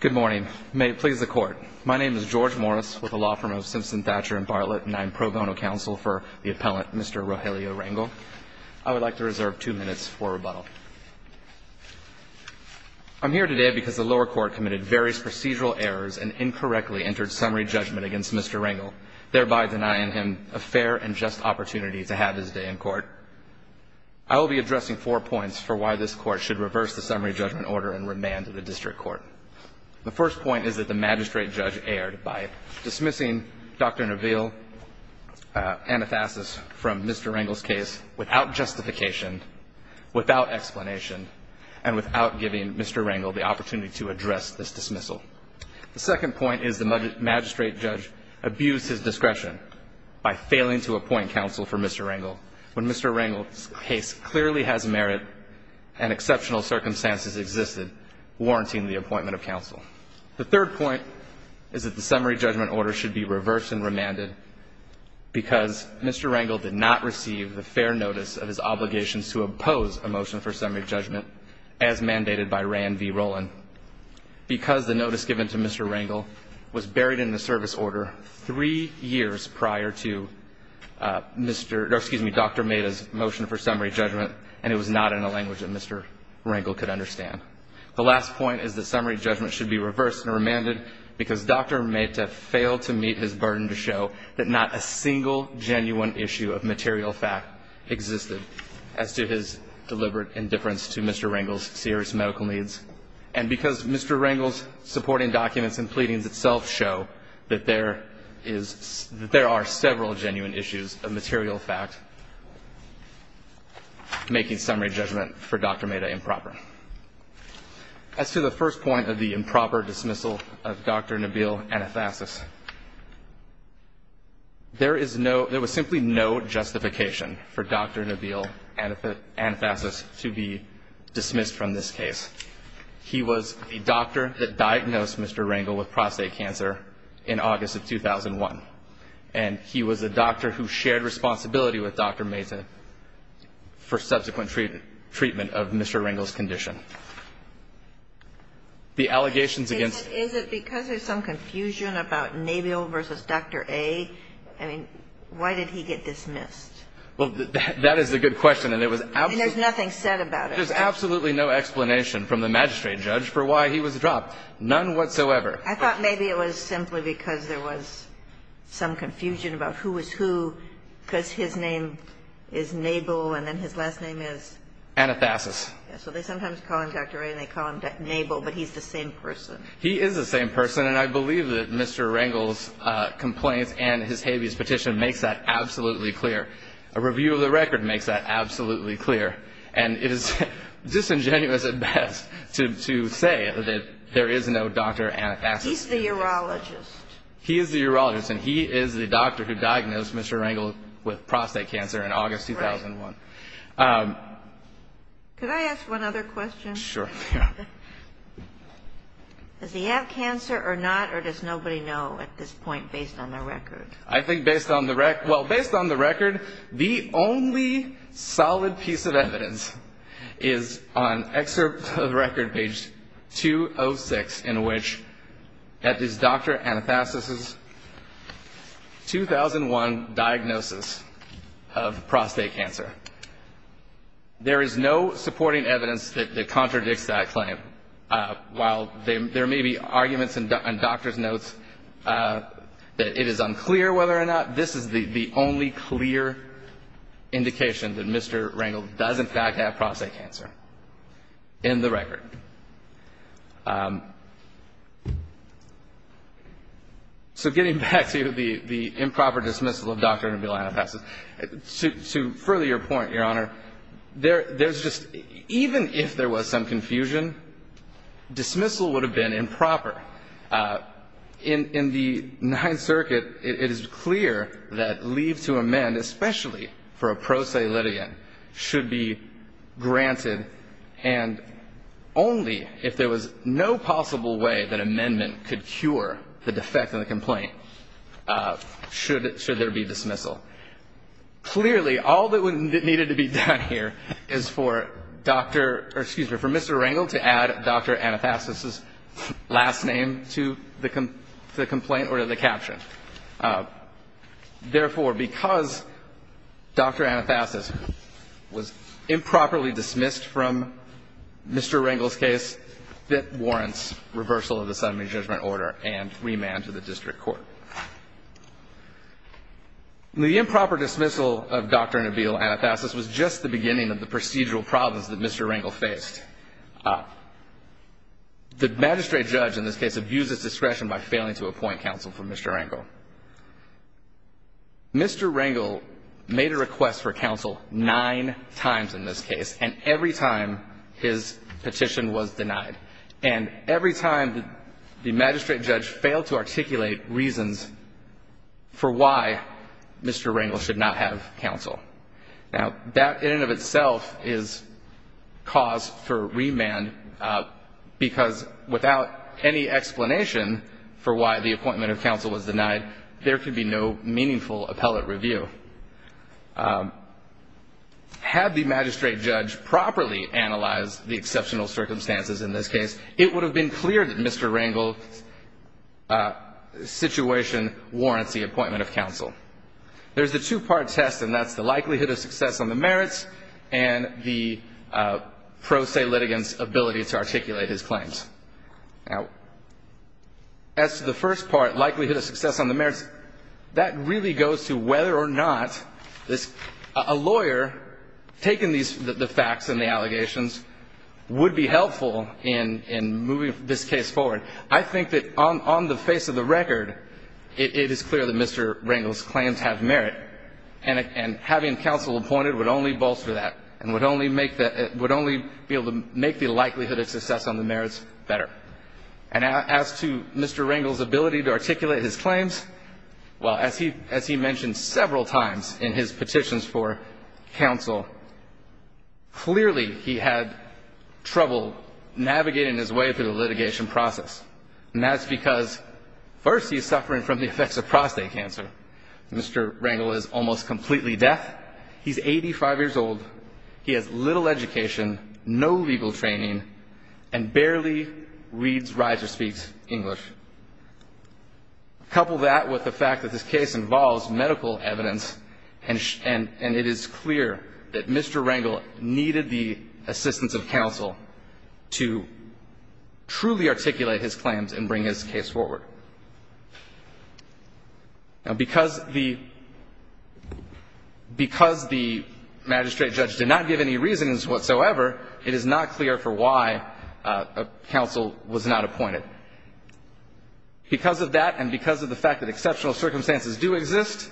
Good morning, may it please the court. My name is George Morris with the law firm of Simpson Thatcher and Bartlett and I'm pro bono counsel for the appellant Mr. Rogelio Rangel. I would like to reserve two minutes for rebuttal I'm here today because the lower court committed various procedural errors and incorrectly entered summary judgment against. Mr Rangel thereby denying him a fair and just opportunity to have his day in court. I Will be addressing four points for why this court should reverse the summary judgment order and remand to the district court The first point is that the magistrate judge erred by dismissing dr. Nabil Anathasis from mr. Rangel's case without justification Without explanation and without giving mr. Rangel the opportunity to address this dismissal The second point is the magistrate judge abused his discretion by failing to appoint counsel for mr Rangel when mr. Rangel's case clearly has merit and exceptional circumstances existed Warranting the appointment of counsel. The third point is that the summary judgment order should be reversed and remanded Because mr. Rangel did not receive the fair notice of his obligations to oppose a motion for summary judgment as mandated by ran v. Roland Because the notice given to mr. Rangel was buried in the service order three years prior to Mr. Excuse me. Dr. Made his motion for summary judgment and it was not in a language that mr Rangel could understand The last point is the summary judgment should be reversed and remanded because dr Made to fail to meet his burden to show that not a single genuine issue of material fact Existed as to his deliberate indifference to mr. Rangel's serious medical needs and because mr Rangel's supporting documents and pleadings itself show that there is There are several genuine issues of material fact Making summary judgment for dr. Made a improper As to the first point of the improper dismissal of dr. Nabil and a fascist There is no there was simply no justification for dr. Nabil and if it and fascist to be Dismissed from this case. He was a doctor that diagnosed. Mr. Rangel with prostate cancer in August of 2001 and He was a doctor who shared responsibility with dr. Mehta for subsequent treatment treatment of mr. Rangel's condition The allegations against Confusion about Nabil versus dr. A. I mean, why did he get dismissed? Well, that is a good question and it was out. There's nothing said about it There's absolutely no explanation from the magistrate judge for why he was dropped none whatsoever I thought maybe it was simply because there was Some confusion about who was who because his name is Nabil and then his last name is anathasis. So they sometimes call him. Dr. A and they call him that Nabil But he's the same person. He is the same person and I believe that mr. Rangel's Complaints and his habeas petition makes that absolutely clear a review of the record makes that absolutely clear and it is Disingenuous at best to say that there is no doctor and he's the urologist He is the urologist and he is the doctor who diagnosed. Mr. Rangel with prostate cancer in August 2001 Could I ask one other question sure Does he have cancer or not or does nobody know at this point based on their record I think based on the wreck well based on the record the only solid piece of evidence is on excerpt of the record page 206 in which That is dr. Anathasis's 2001 diagnosis of prostate cancer There is no supporting evidence that contradicts that claim While there may be arguments and doctors notes That it is unclear whether or not this is the the only clear Indication that mr. Rangel does in fact have prostate cancer in the record So getting back to you the the improper dismissal of dr. Nabil Anathasis suit to further your point your honor there. There's just even if there was some confusion Dismissal would have been improper In in the 9th circuit. It is clear that leave to amend especially for a pro se Lydian should be granted and Only if there was no possible way that amendment could cure the defect in the complaint Should it should there be dismissal? Clearly all that would needed to be done here is for doctor or excuse me for mr. Rangel to add dr. Anathasis's last name to the complaint or to the caption Therefore because dr. Anathasis was improperly dismissed from Mr. Rangel's case that warrants reversal of the summary judgment order and remand to the district court The improper dismissal of dr. Nabil Anathasis was just the beginning of the procedural problems that mr. Rangel faced The magistrate judge in this case abuses discretion by failing to appoint counsel from mr. Rangel Mr. Rangel made a request for counsel nine times in this case and every time His petition was denied and every time the magistrate judge failed to articulate reasons For why? Mr. Rangel should not have counsel now that in and of itself is cause for remand Because without any explanation for why the appointment of counsel was denied there could be no meaningful appellate review Had the magistrate judge properly analyze the exceptional circumstances in this case, it would have been clear that mr. Rangel Situation warrants the appointment of counsel. There's the two-part test and that's the likelihood of success on the merits and the Pro se litigants ability to articulate his claims now As to the first part likelihood of success on the merits that really goes to whether or not This a lawyer Taking these the facts and the allegations Would be helpful in in moving this case forward. I think that on the face of the record It is clear that mr Rangel's claims have merit and Having counsel appointed would only bolster that and would only make that it would only be able to make the likelihood of success on the merits Better and as to mr. Rangel's ability to articulate his claims Well as he as he mentioned several times in his petitions for counsel Clearly he had trouble Navigating his way through the litigation process and that's because first he's suffering from the effects of prostate cancer Mr. Rangel is almost completely deaf. He's 85 years old. He has little education no legal training and barely reads writer speaks English a With the fact that this case involves medical evidence and and and it is clear that mr. Rangel needed the assistance of counsel to Truly articulate his claims and bring his case forward Now because the Because the magistrate judge did not give any reasons whatsoever. It is not clear for why a council was not appointed Because of that and because of the fact that exceptional circumstances do exist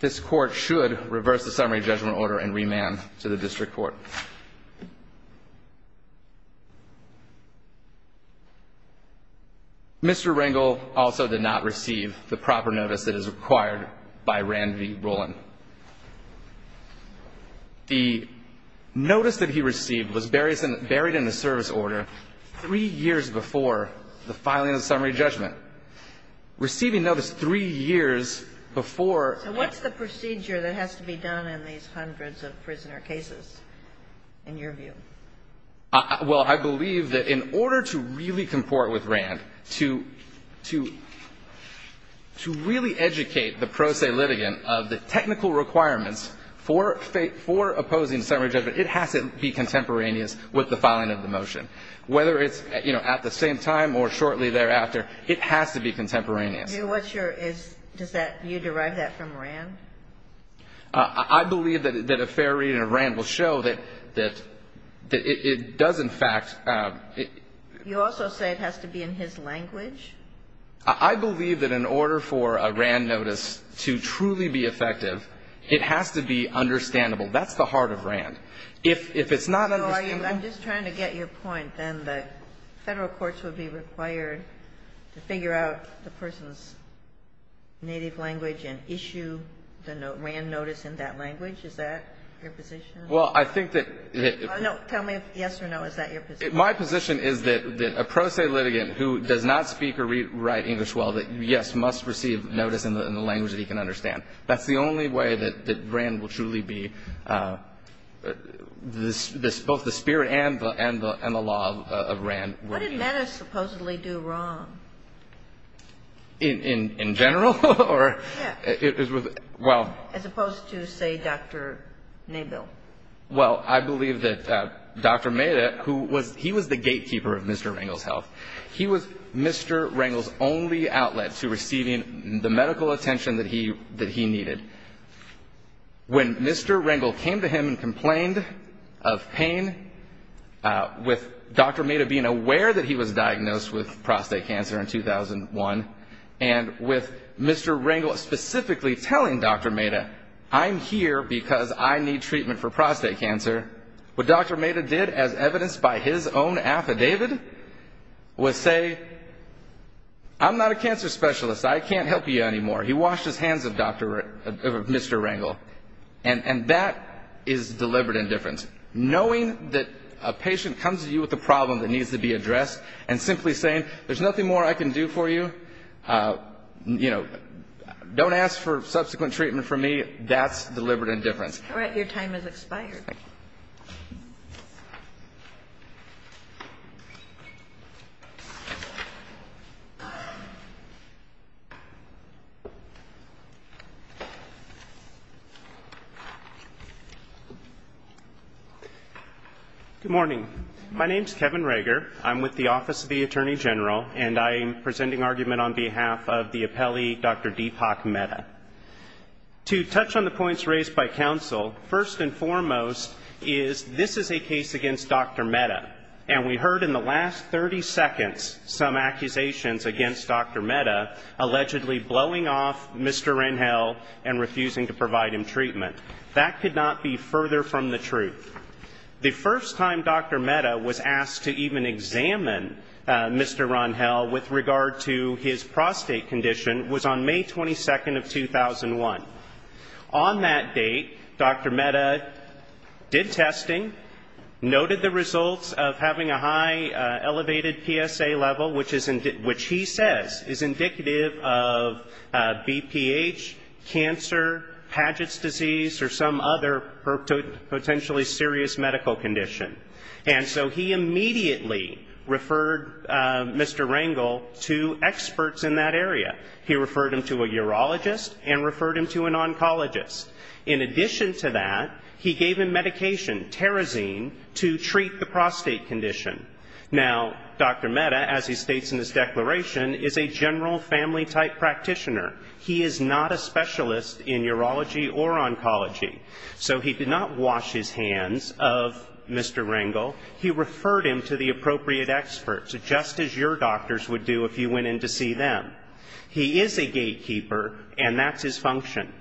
This court should reverse the summary judgment order and remand to the district court Mr. Rangel also did not receive the proper notice that is required by Randy Roland The Notice that he received was berries and buried in the service order three years before the filing of the summary judgment Receiving notice three years before what's the procedure that has to be done in these hundreds of prisoner cases in your view? well, I believe that in order to really comport with Rand to to To really educate the pro se litigant of the technical requirements for fate for opposing summary judgment It has to be contemporaneous with the filing of the motion whether it's you know at the same time or shortly thereafter It has to be contemporaneous. What's your is does that you derive that from Rand? I believe that a fair reading of Rand will show that that It does in fact You also say it has to be in his language I believe that in order for a Rand notice to truly be effective. It has to be understandable That's the heart of Rand if it's not I'm just trying to get your point and the federal courts would be required To figure out the person's Native language and issue the note Rand notice in that language. Is that your position? Well, I think that No, tell me yes or no Is that your my position is that a pro se litigant who does not speak or read write English? Well that yes must receive notice in the language that he can understand. That's the only way that that brand will truly be This this both the spirit and the and the and the law of Rand supposedly do wrong In in general or it was well as opposed to say, dr. Mabel, well, I believe that dr. Meta who was he was the gatekeeper of mr. Rangel's health. He was mr Rangel's only outlet to receiving the medical attention that he that he needed When mr. Rangel came to him and complained of pain With dr. Meta being aware that he was diagnosed with prostate cancer in 2001 and with mr Rangel specifically telling dr. Meta I'm here because I need treatment for prostate cancer What dr. Meta did as evidenced by his own affidavit? was say I'm not a cancer specialist. I can't help you anymore. He washed his hands of dr. Mr. Rangel and and that is Deliberate indifference knowing that a patient comes to you with the problem that needs to be addressed and simply saying there's nothing more I can do for you You know don't ask for subsequent treatment for me that's deliberate indifference, all right, your time is expired You Good morning. My name is Kevin Rager I'm with the Office of the Attorney General and I am presenting argument on behalf of the appellee. Dr. Deepak meta To touch on the points raised by counsel first and foremost is this is a case against dr Meta and we heard in the last 30 seconds some accusations against dr. Meta Allegedly blowing off. Mr. Rangel and refusing to provide him treatment that could not be further from the truth The first time dr. Meta was asked to even examine Mr. Rangel with regard to his prostate condition was on May 22nd of 2001 on that date dr. Meta did testing Noted the results of having a high elevated PSA level which isn't it which he says is indicative of BPH cancer Paget's disease or some other her Potentially serious medical condition and so he immediately referred Mr. Rangel to experts in that area He referred him to a urologist and referred him to an oncologist in addition to that He gave him medication terazine to treat the prostate condition now Dr. Meta as he states in this declaration is a general family type practitioner He is not a specialist in urology or oncology So he did not wash his hands of mr. Rangel He referred him to the appropriate experts just as your doctors would do if you went in to see them He is a gatekeeper and that's his function.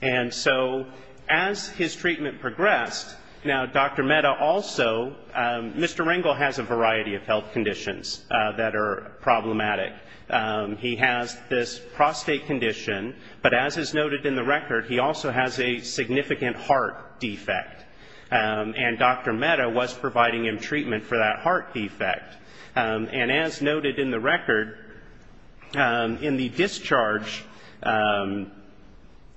And so as his treatment progressed now, dr Meta also Mr. Rangel has a variety of health conditions that are problematic He has this prostate condition, but as is noted in the record, he also has a significant heart defect And dr. Meta was providing him treatment for that heart defect And as noted in the record in the discharge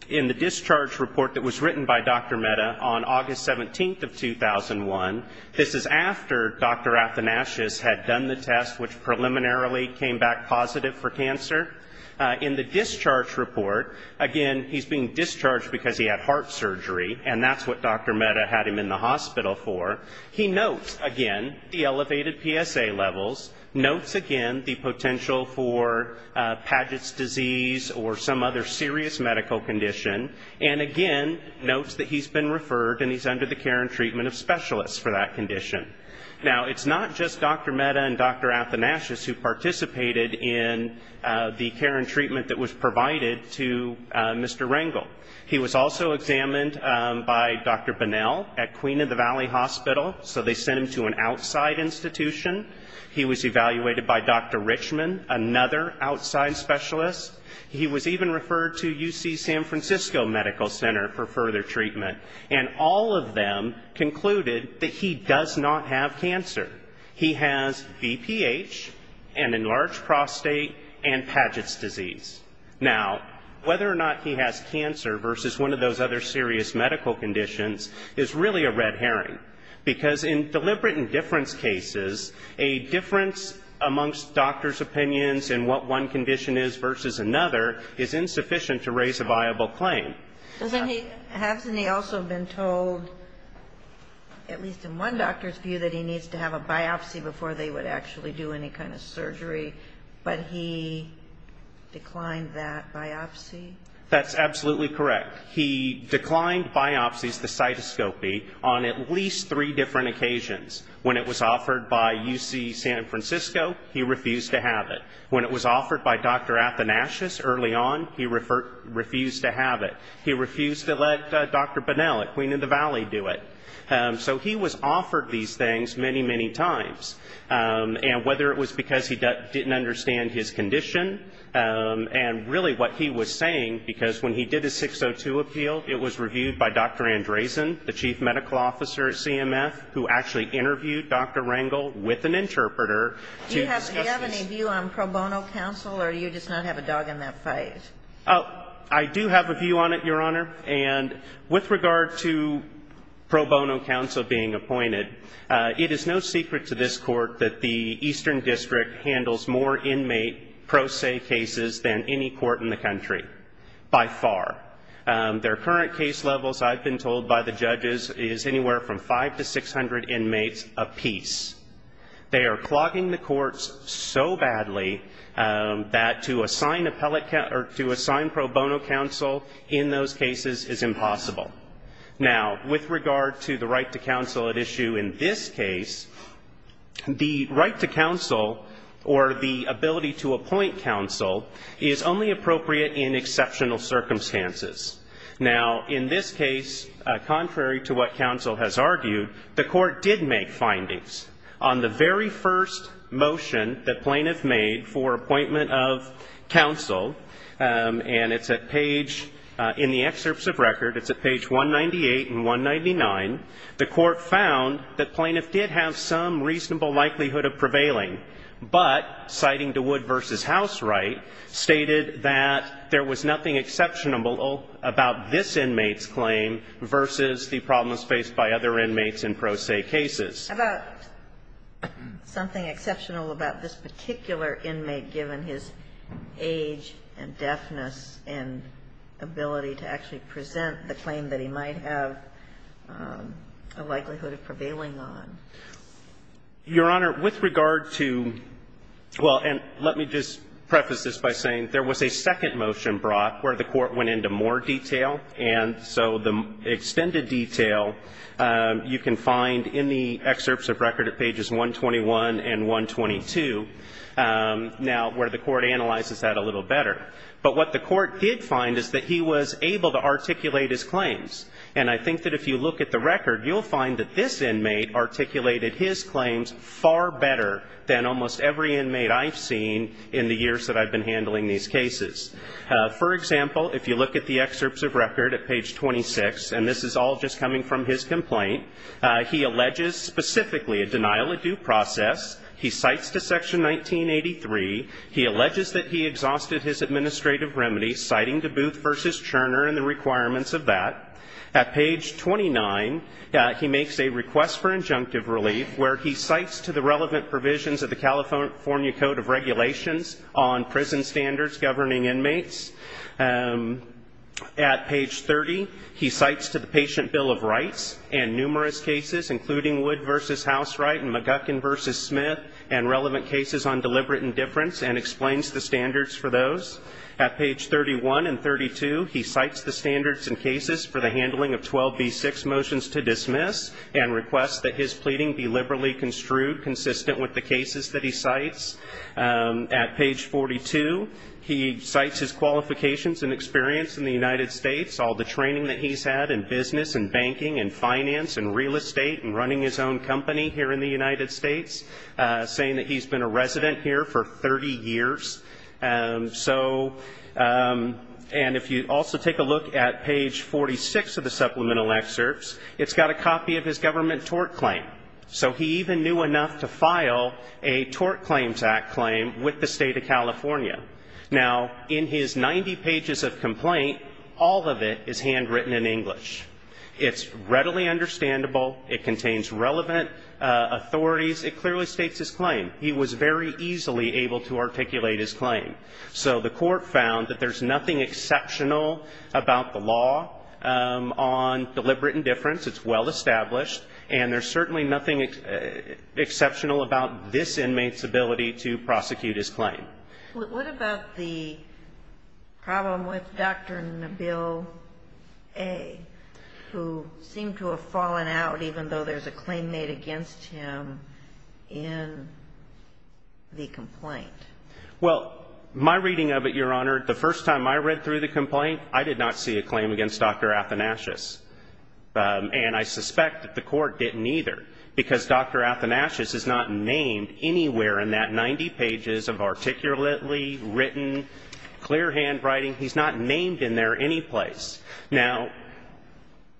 In the discharge report that was written by dr. Meta on August 17th of 2001 This is after dr. At the Nash's had done the test which preliminarily came back positive for cancer In the discharge report again, he's being discharged because he had heart surgery and that's what dr Meta had him in the hospital for he notes again the elevated PSA levels notes again the potential for Paget's disease or some other serious medical condition and again Notes that he's been referred and he's under the care and treatment of specialists for that condition now It's not just dr. Meta and dr. At the Nash's who participated in The care and treatment that was provided to mr. Rangel. He was also examined by dr Bunnell at Queen of the Valley Hospital, so they sent him to an outside institution. He was evaluated by dr. Richman Another outside specialist He was even referred to UC San Francisco Medical Center for further treatment and all of them Concluded that he does not have cancer He has BPH and enlarged prostate and Paget's disease Now whether or not he has cancer versus one of those other serious medical conditions is really a red herring because in deliberate indifference cases a Difference amongst doctors opinions and what one condition is versus another is insufficient to raise a viable claim Hasn't he also been told? At least in one doctor's view that he needs to have a biopsy before they would actually do any kind of surgery, but he declined that biopsy That's absolutely correct He declined biopsies the cytoscopy on at least three different occasions when it was offered by UC San Francisco he refused to have it when it was offered by dr. At the Nash's early on he referred refused to have it He refused to let dr. Bunnell at Queen of the Valley do it So he was offered these things many many times And whether it was because he didn't understand his condition And really what he was saying because when he did his 602 appeal it was reviewed by dr. Andresen the chief medical officer at CMF who actually interviewed dr. Rangel with an interpreter Counselor you just not have a dog in that fight. Oh, I do have a view on it your honor and with regard to pro bono counsel being appointed It is no secret to this court that the Eastern District handles more inmate Pro se cases than any court in the country by far Their current case levels I've been told by the judges is anywhere from five to six hundred inmates apiece They are clogging the courts so badly That to assign appellate count or to assign pro bono counsel in those cases is impossible Now with regard to the right to counsel at issue in this case The right to counsel or the ability to appoint counsel is only appropriate in exceptional circumstances Now in this case Contrary to what counsel has argued the court did make findings on the very first motion that plaintiff made for appointment of counsel And it's a page in the excerpts of record. It's a page 198 and 199 The court found that plaintiff did have some reasonable likelihood of prevailing But citing to wood versus house, right? Stated that there was nothing exceptional about this inmates claim versus the problems faced by other inmates in pro se cases about something exceptional about this particular inmate given his age and deafness and Ability to actually present the claim that he might have a likelihood of prevailing on your honor with regard to Well, and let me just preface this by saying there was a second motion brought where the court went into more detail and so the extended detail You can find in the excerpts of record at pages 121 and 122 Now where the court analyzes that a little better But what the court did find is that he was able to articulate his claims And I think that if you look at the record you'll find that this inmate Articulated his claims far better than almost every inmate I've seen in the years that I've been handling these cases For example, if you look at the excerpts of record at page 26, and this is all just coming from his complaint He alleges specifically a denial of due process. He cites to section 1983 he alleges that he exhausted his administrative remedy citing to booth versus Turner and the requirements of that at page 29 that he makes a request for injunctive relief where he cites to the relevant provisions of the California Code of Regulations on prison standards governing inmates At page 30 he cites to the patient Bill of Rights and numerous cases including wood versus house right and McGuckin versus Smith and Relevant cases on deliberate indifference and explains the standards for those at page 31 and 32 He cites the standards and cases for the handling of 12 v6 motions to dismiss and requests that his pleading be liberally construed consistent with the cases that he cites at page 42 He cites his qualifications and experience in the United States all the training that he's had in business and banking and finance and real estate And running his own company here in the United States Saying that he's been a resident here for 30 years so And if you also take a look at page 46 of the supplemental excerpts It's got a copy of his government tort claim So he even knew enough to file a tort claims act claim with the state of California Now in his 90 pages of complaint, all of it is handwritten in English It's readily understandable. It contains relevant Authorities it clearly states his claim. He was very easily able to articulate his claim So the court found that there's nothing exceptional about the law On deliberate indifference, it's well established and there's certainly nothing Exceptional about this inmates ability to prosecute his claim What about the? problem with dr. Nabil a Who seemed to have fallen out even though there's a claim made against him in The complaint well my reading of it your honor the first time I read through the complaint I did not see a claim against dr. Athanasius And I suspect that the court didn't either because dr. Athanasius is not named anywhere in that 90 pages of articulately written Clear handwriting. He's not named in there any place now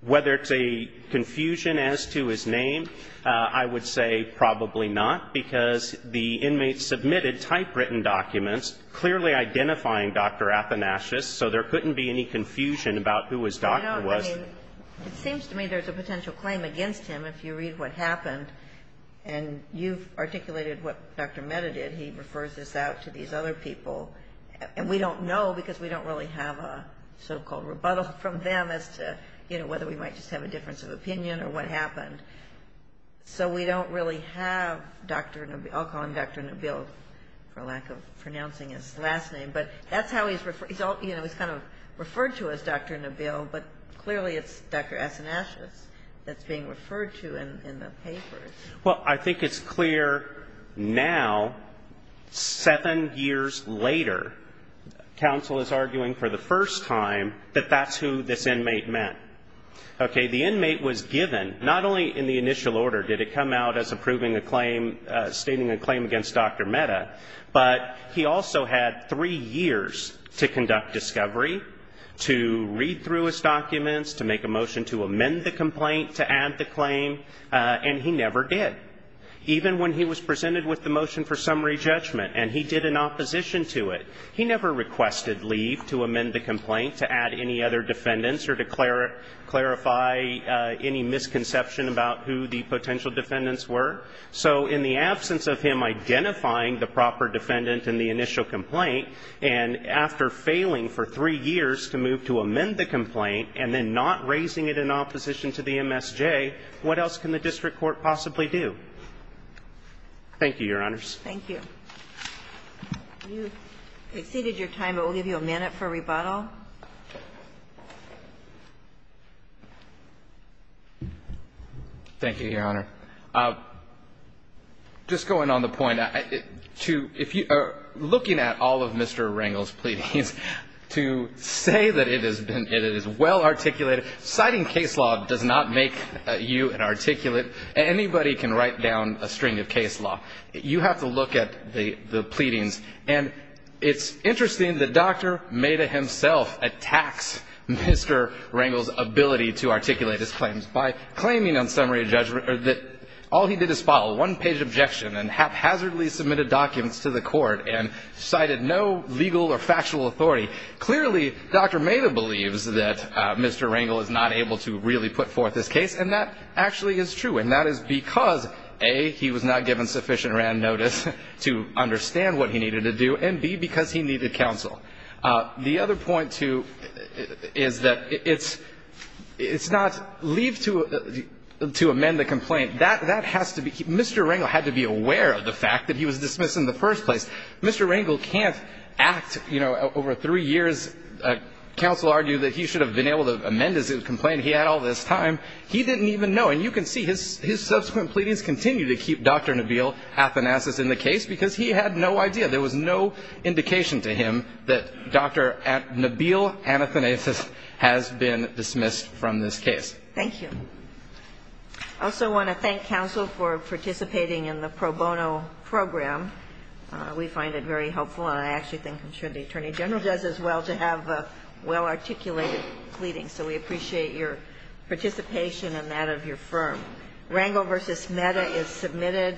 Whether it's a confusion as to his name I would say probably not because the inmates submitted typewritten documents clearly identifying dr. Athanasius, so there couldn't be any confusion about who was doctor was It seems to me. There's a potential claim against him if you read what happened and You've articulated what dr. Meda did he refers this out to these other people and we don't know because we don't really have a So-called rebuttal from them as to you know, whether we might just have a difference of opinion or what happened So we don't really have dr. No, I'll call him. Dr. Neville for lack of pronouncing his last name, but that's how he's referred So, you know, he's kind of referred to as dr. Neville, but clearly it's dr. Athanasius that's being referred to in the papers. Well, I think it's clear now seven years later Counsel is arguing for the first time that that's who this inmate meant Okay, the inmate was given not only in the initial order did it come out as approving a claim Stating a claim against dr. Meda, but he also had three years to conduct discovery To read through his documents to make a motion to amend the complaint to add the claim and he never did Even when he was presented with the motion for summary judgment, and he did an opposition to it He never requested leave to amend the complaint to add any other defendants or declare it clarify Any misconception about who the potential defendants were so in the absence of him? identifying the proper defendant in the initial complaint and After failing for three years to move to amend the complaint and then not raising it in opposition to the MSJ What else can the district court possibly do? Thank you, your honors. Thank you You exceeded your time, but we'll give you a minute for rebuttal Thank you, your honor Just going on the point to if you are looking at all of mr. Wrangel's pleadings to say that it has been it is well articulated citing case law does not make You an articulate anybody can write down a string of case law you have to look at the the pleadings and It's interesting that dr. Meda himself attacks Mr. Wrangel's ability to articulate his claims by claiming on summary judgment that all he did is follow one page Objection and haphazardly submitted documents to the court and cited no legal or factual authority clearly Dr. Meda believes that mr. Wrangel is not able to really put forth this case and that actually is true and that is because a he was not given sufficient Rand notice to understand what he needed to do and be because he needed counsel the other point too is that it's It's not leave to To amend the complaint that that has to be mr. Wrangel had to be aware of the fact that he was dismissed in the first Place, mr. Wrangel can't act, you know over three years Counsel argued that he should have been able to amend as it complained He had all this time. He didn't even know and you can see his his subsequent pleadings continue to keep dr Nabil athanasis in the case because he had no idea there was no Indication to him that dr. At Nabil anathanasis has been dismissed from this case. Thank you Also want to thank counsel for participating in the pro bono program We find it very helpful and I actually think I'm sure the Attorney General does as well to have a well articulated pleading So we appreciate your participation and that of your firm Wrangel versus meta is submitted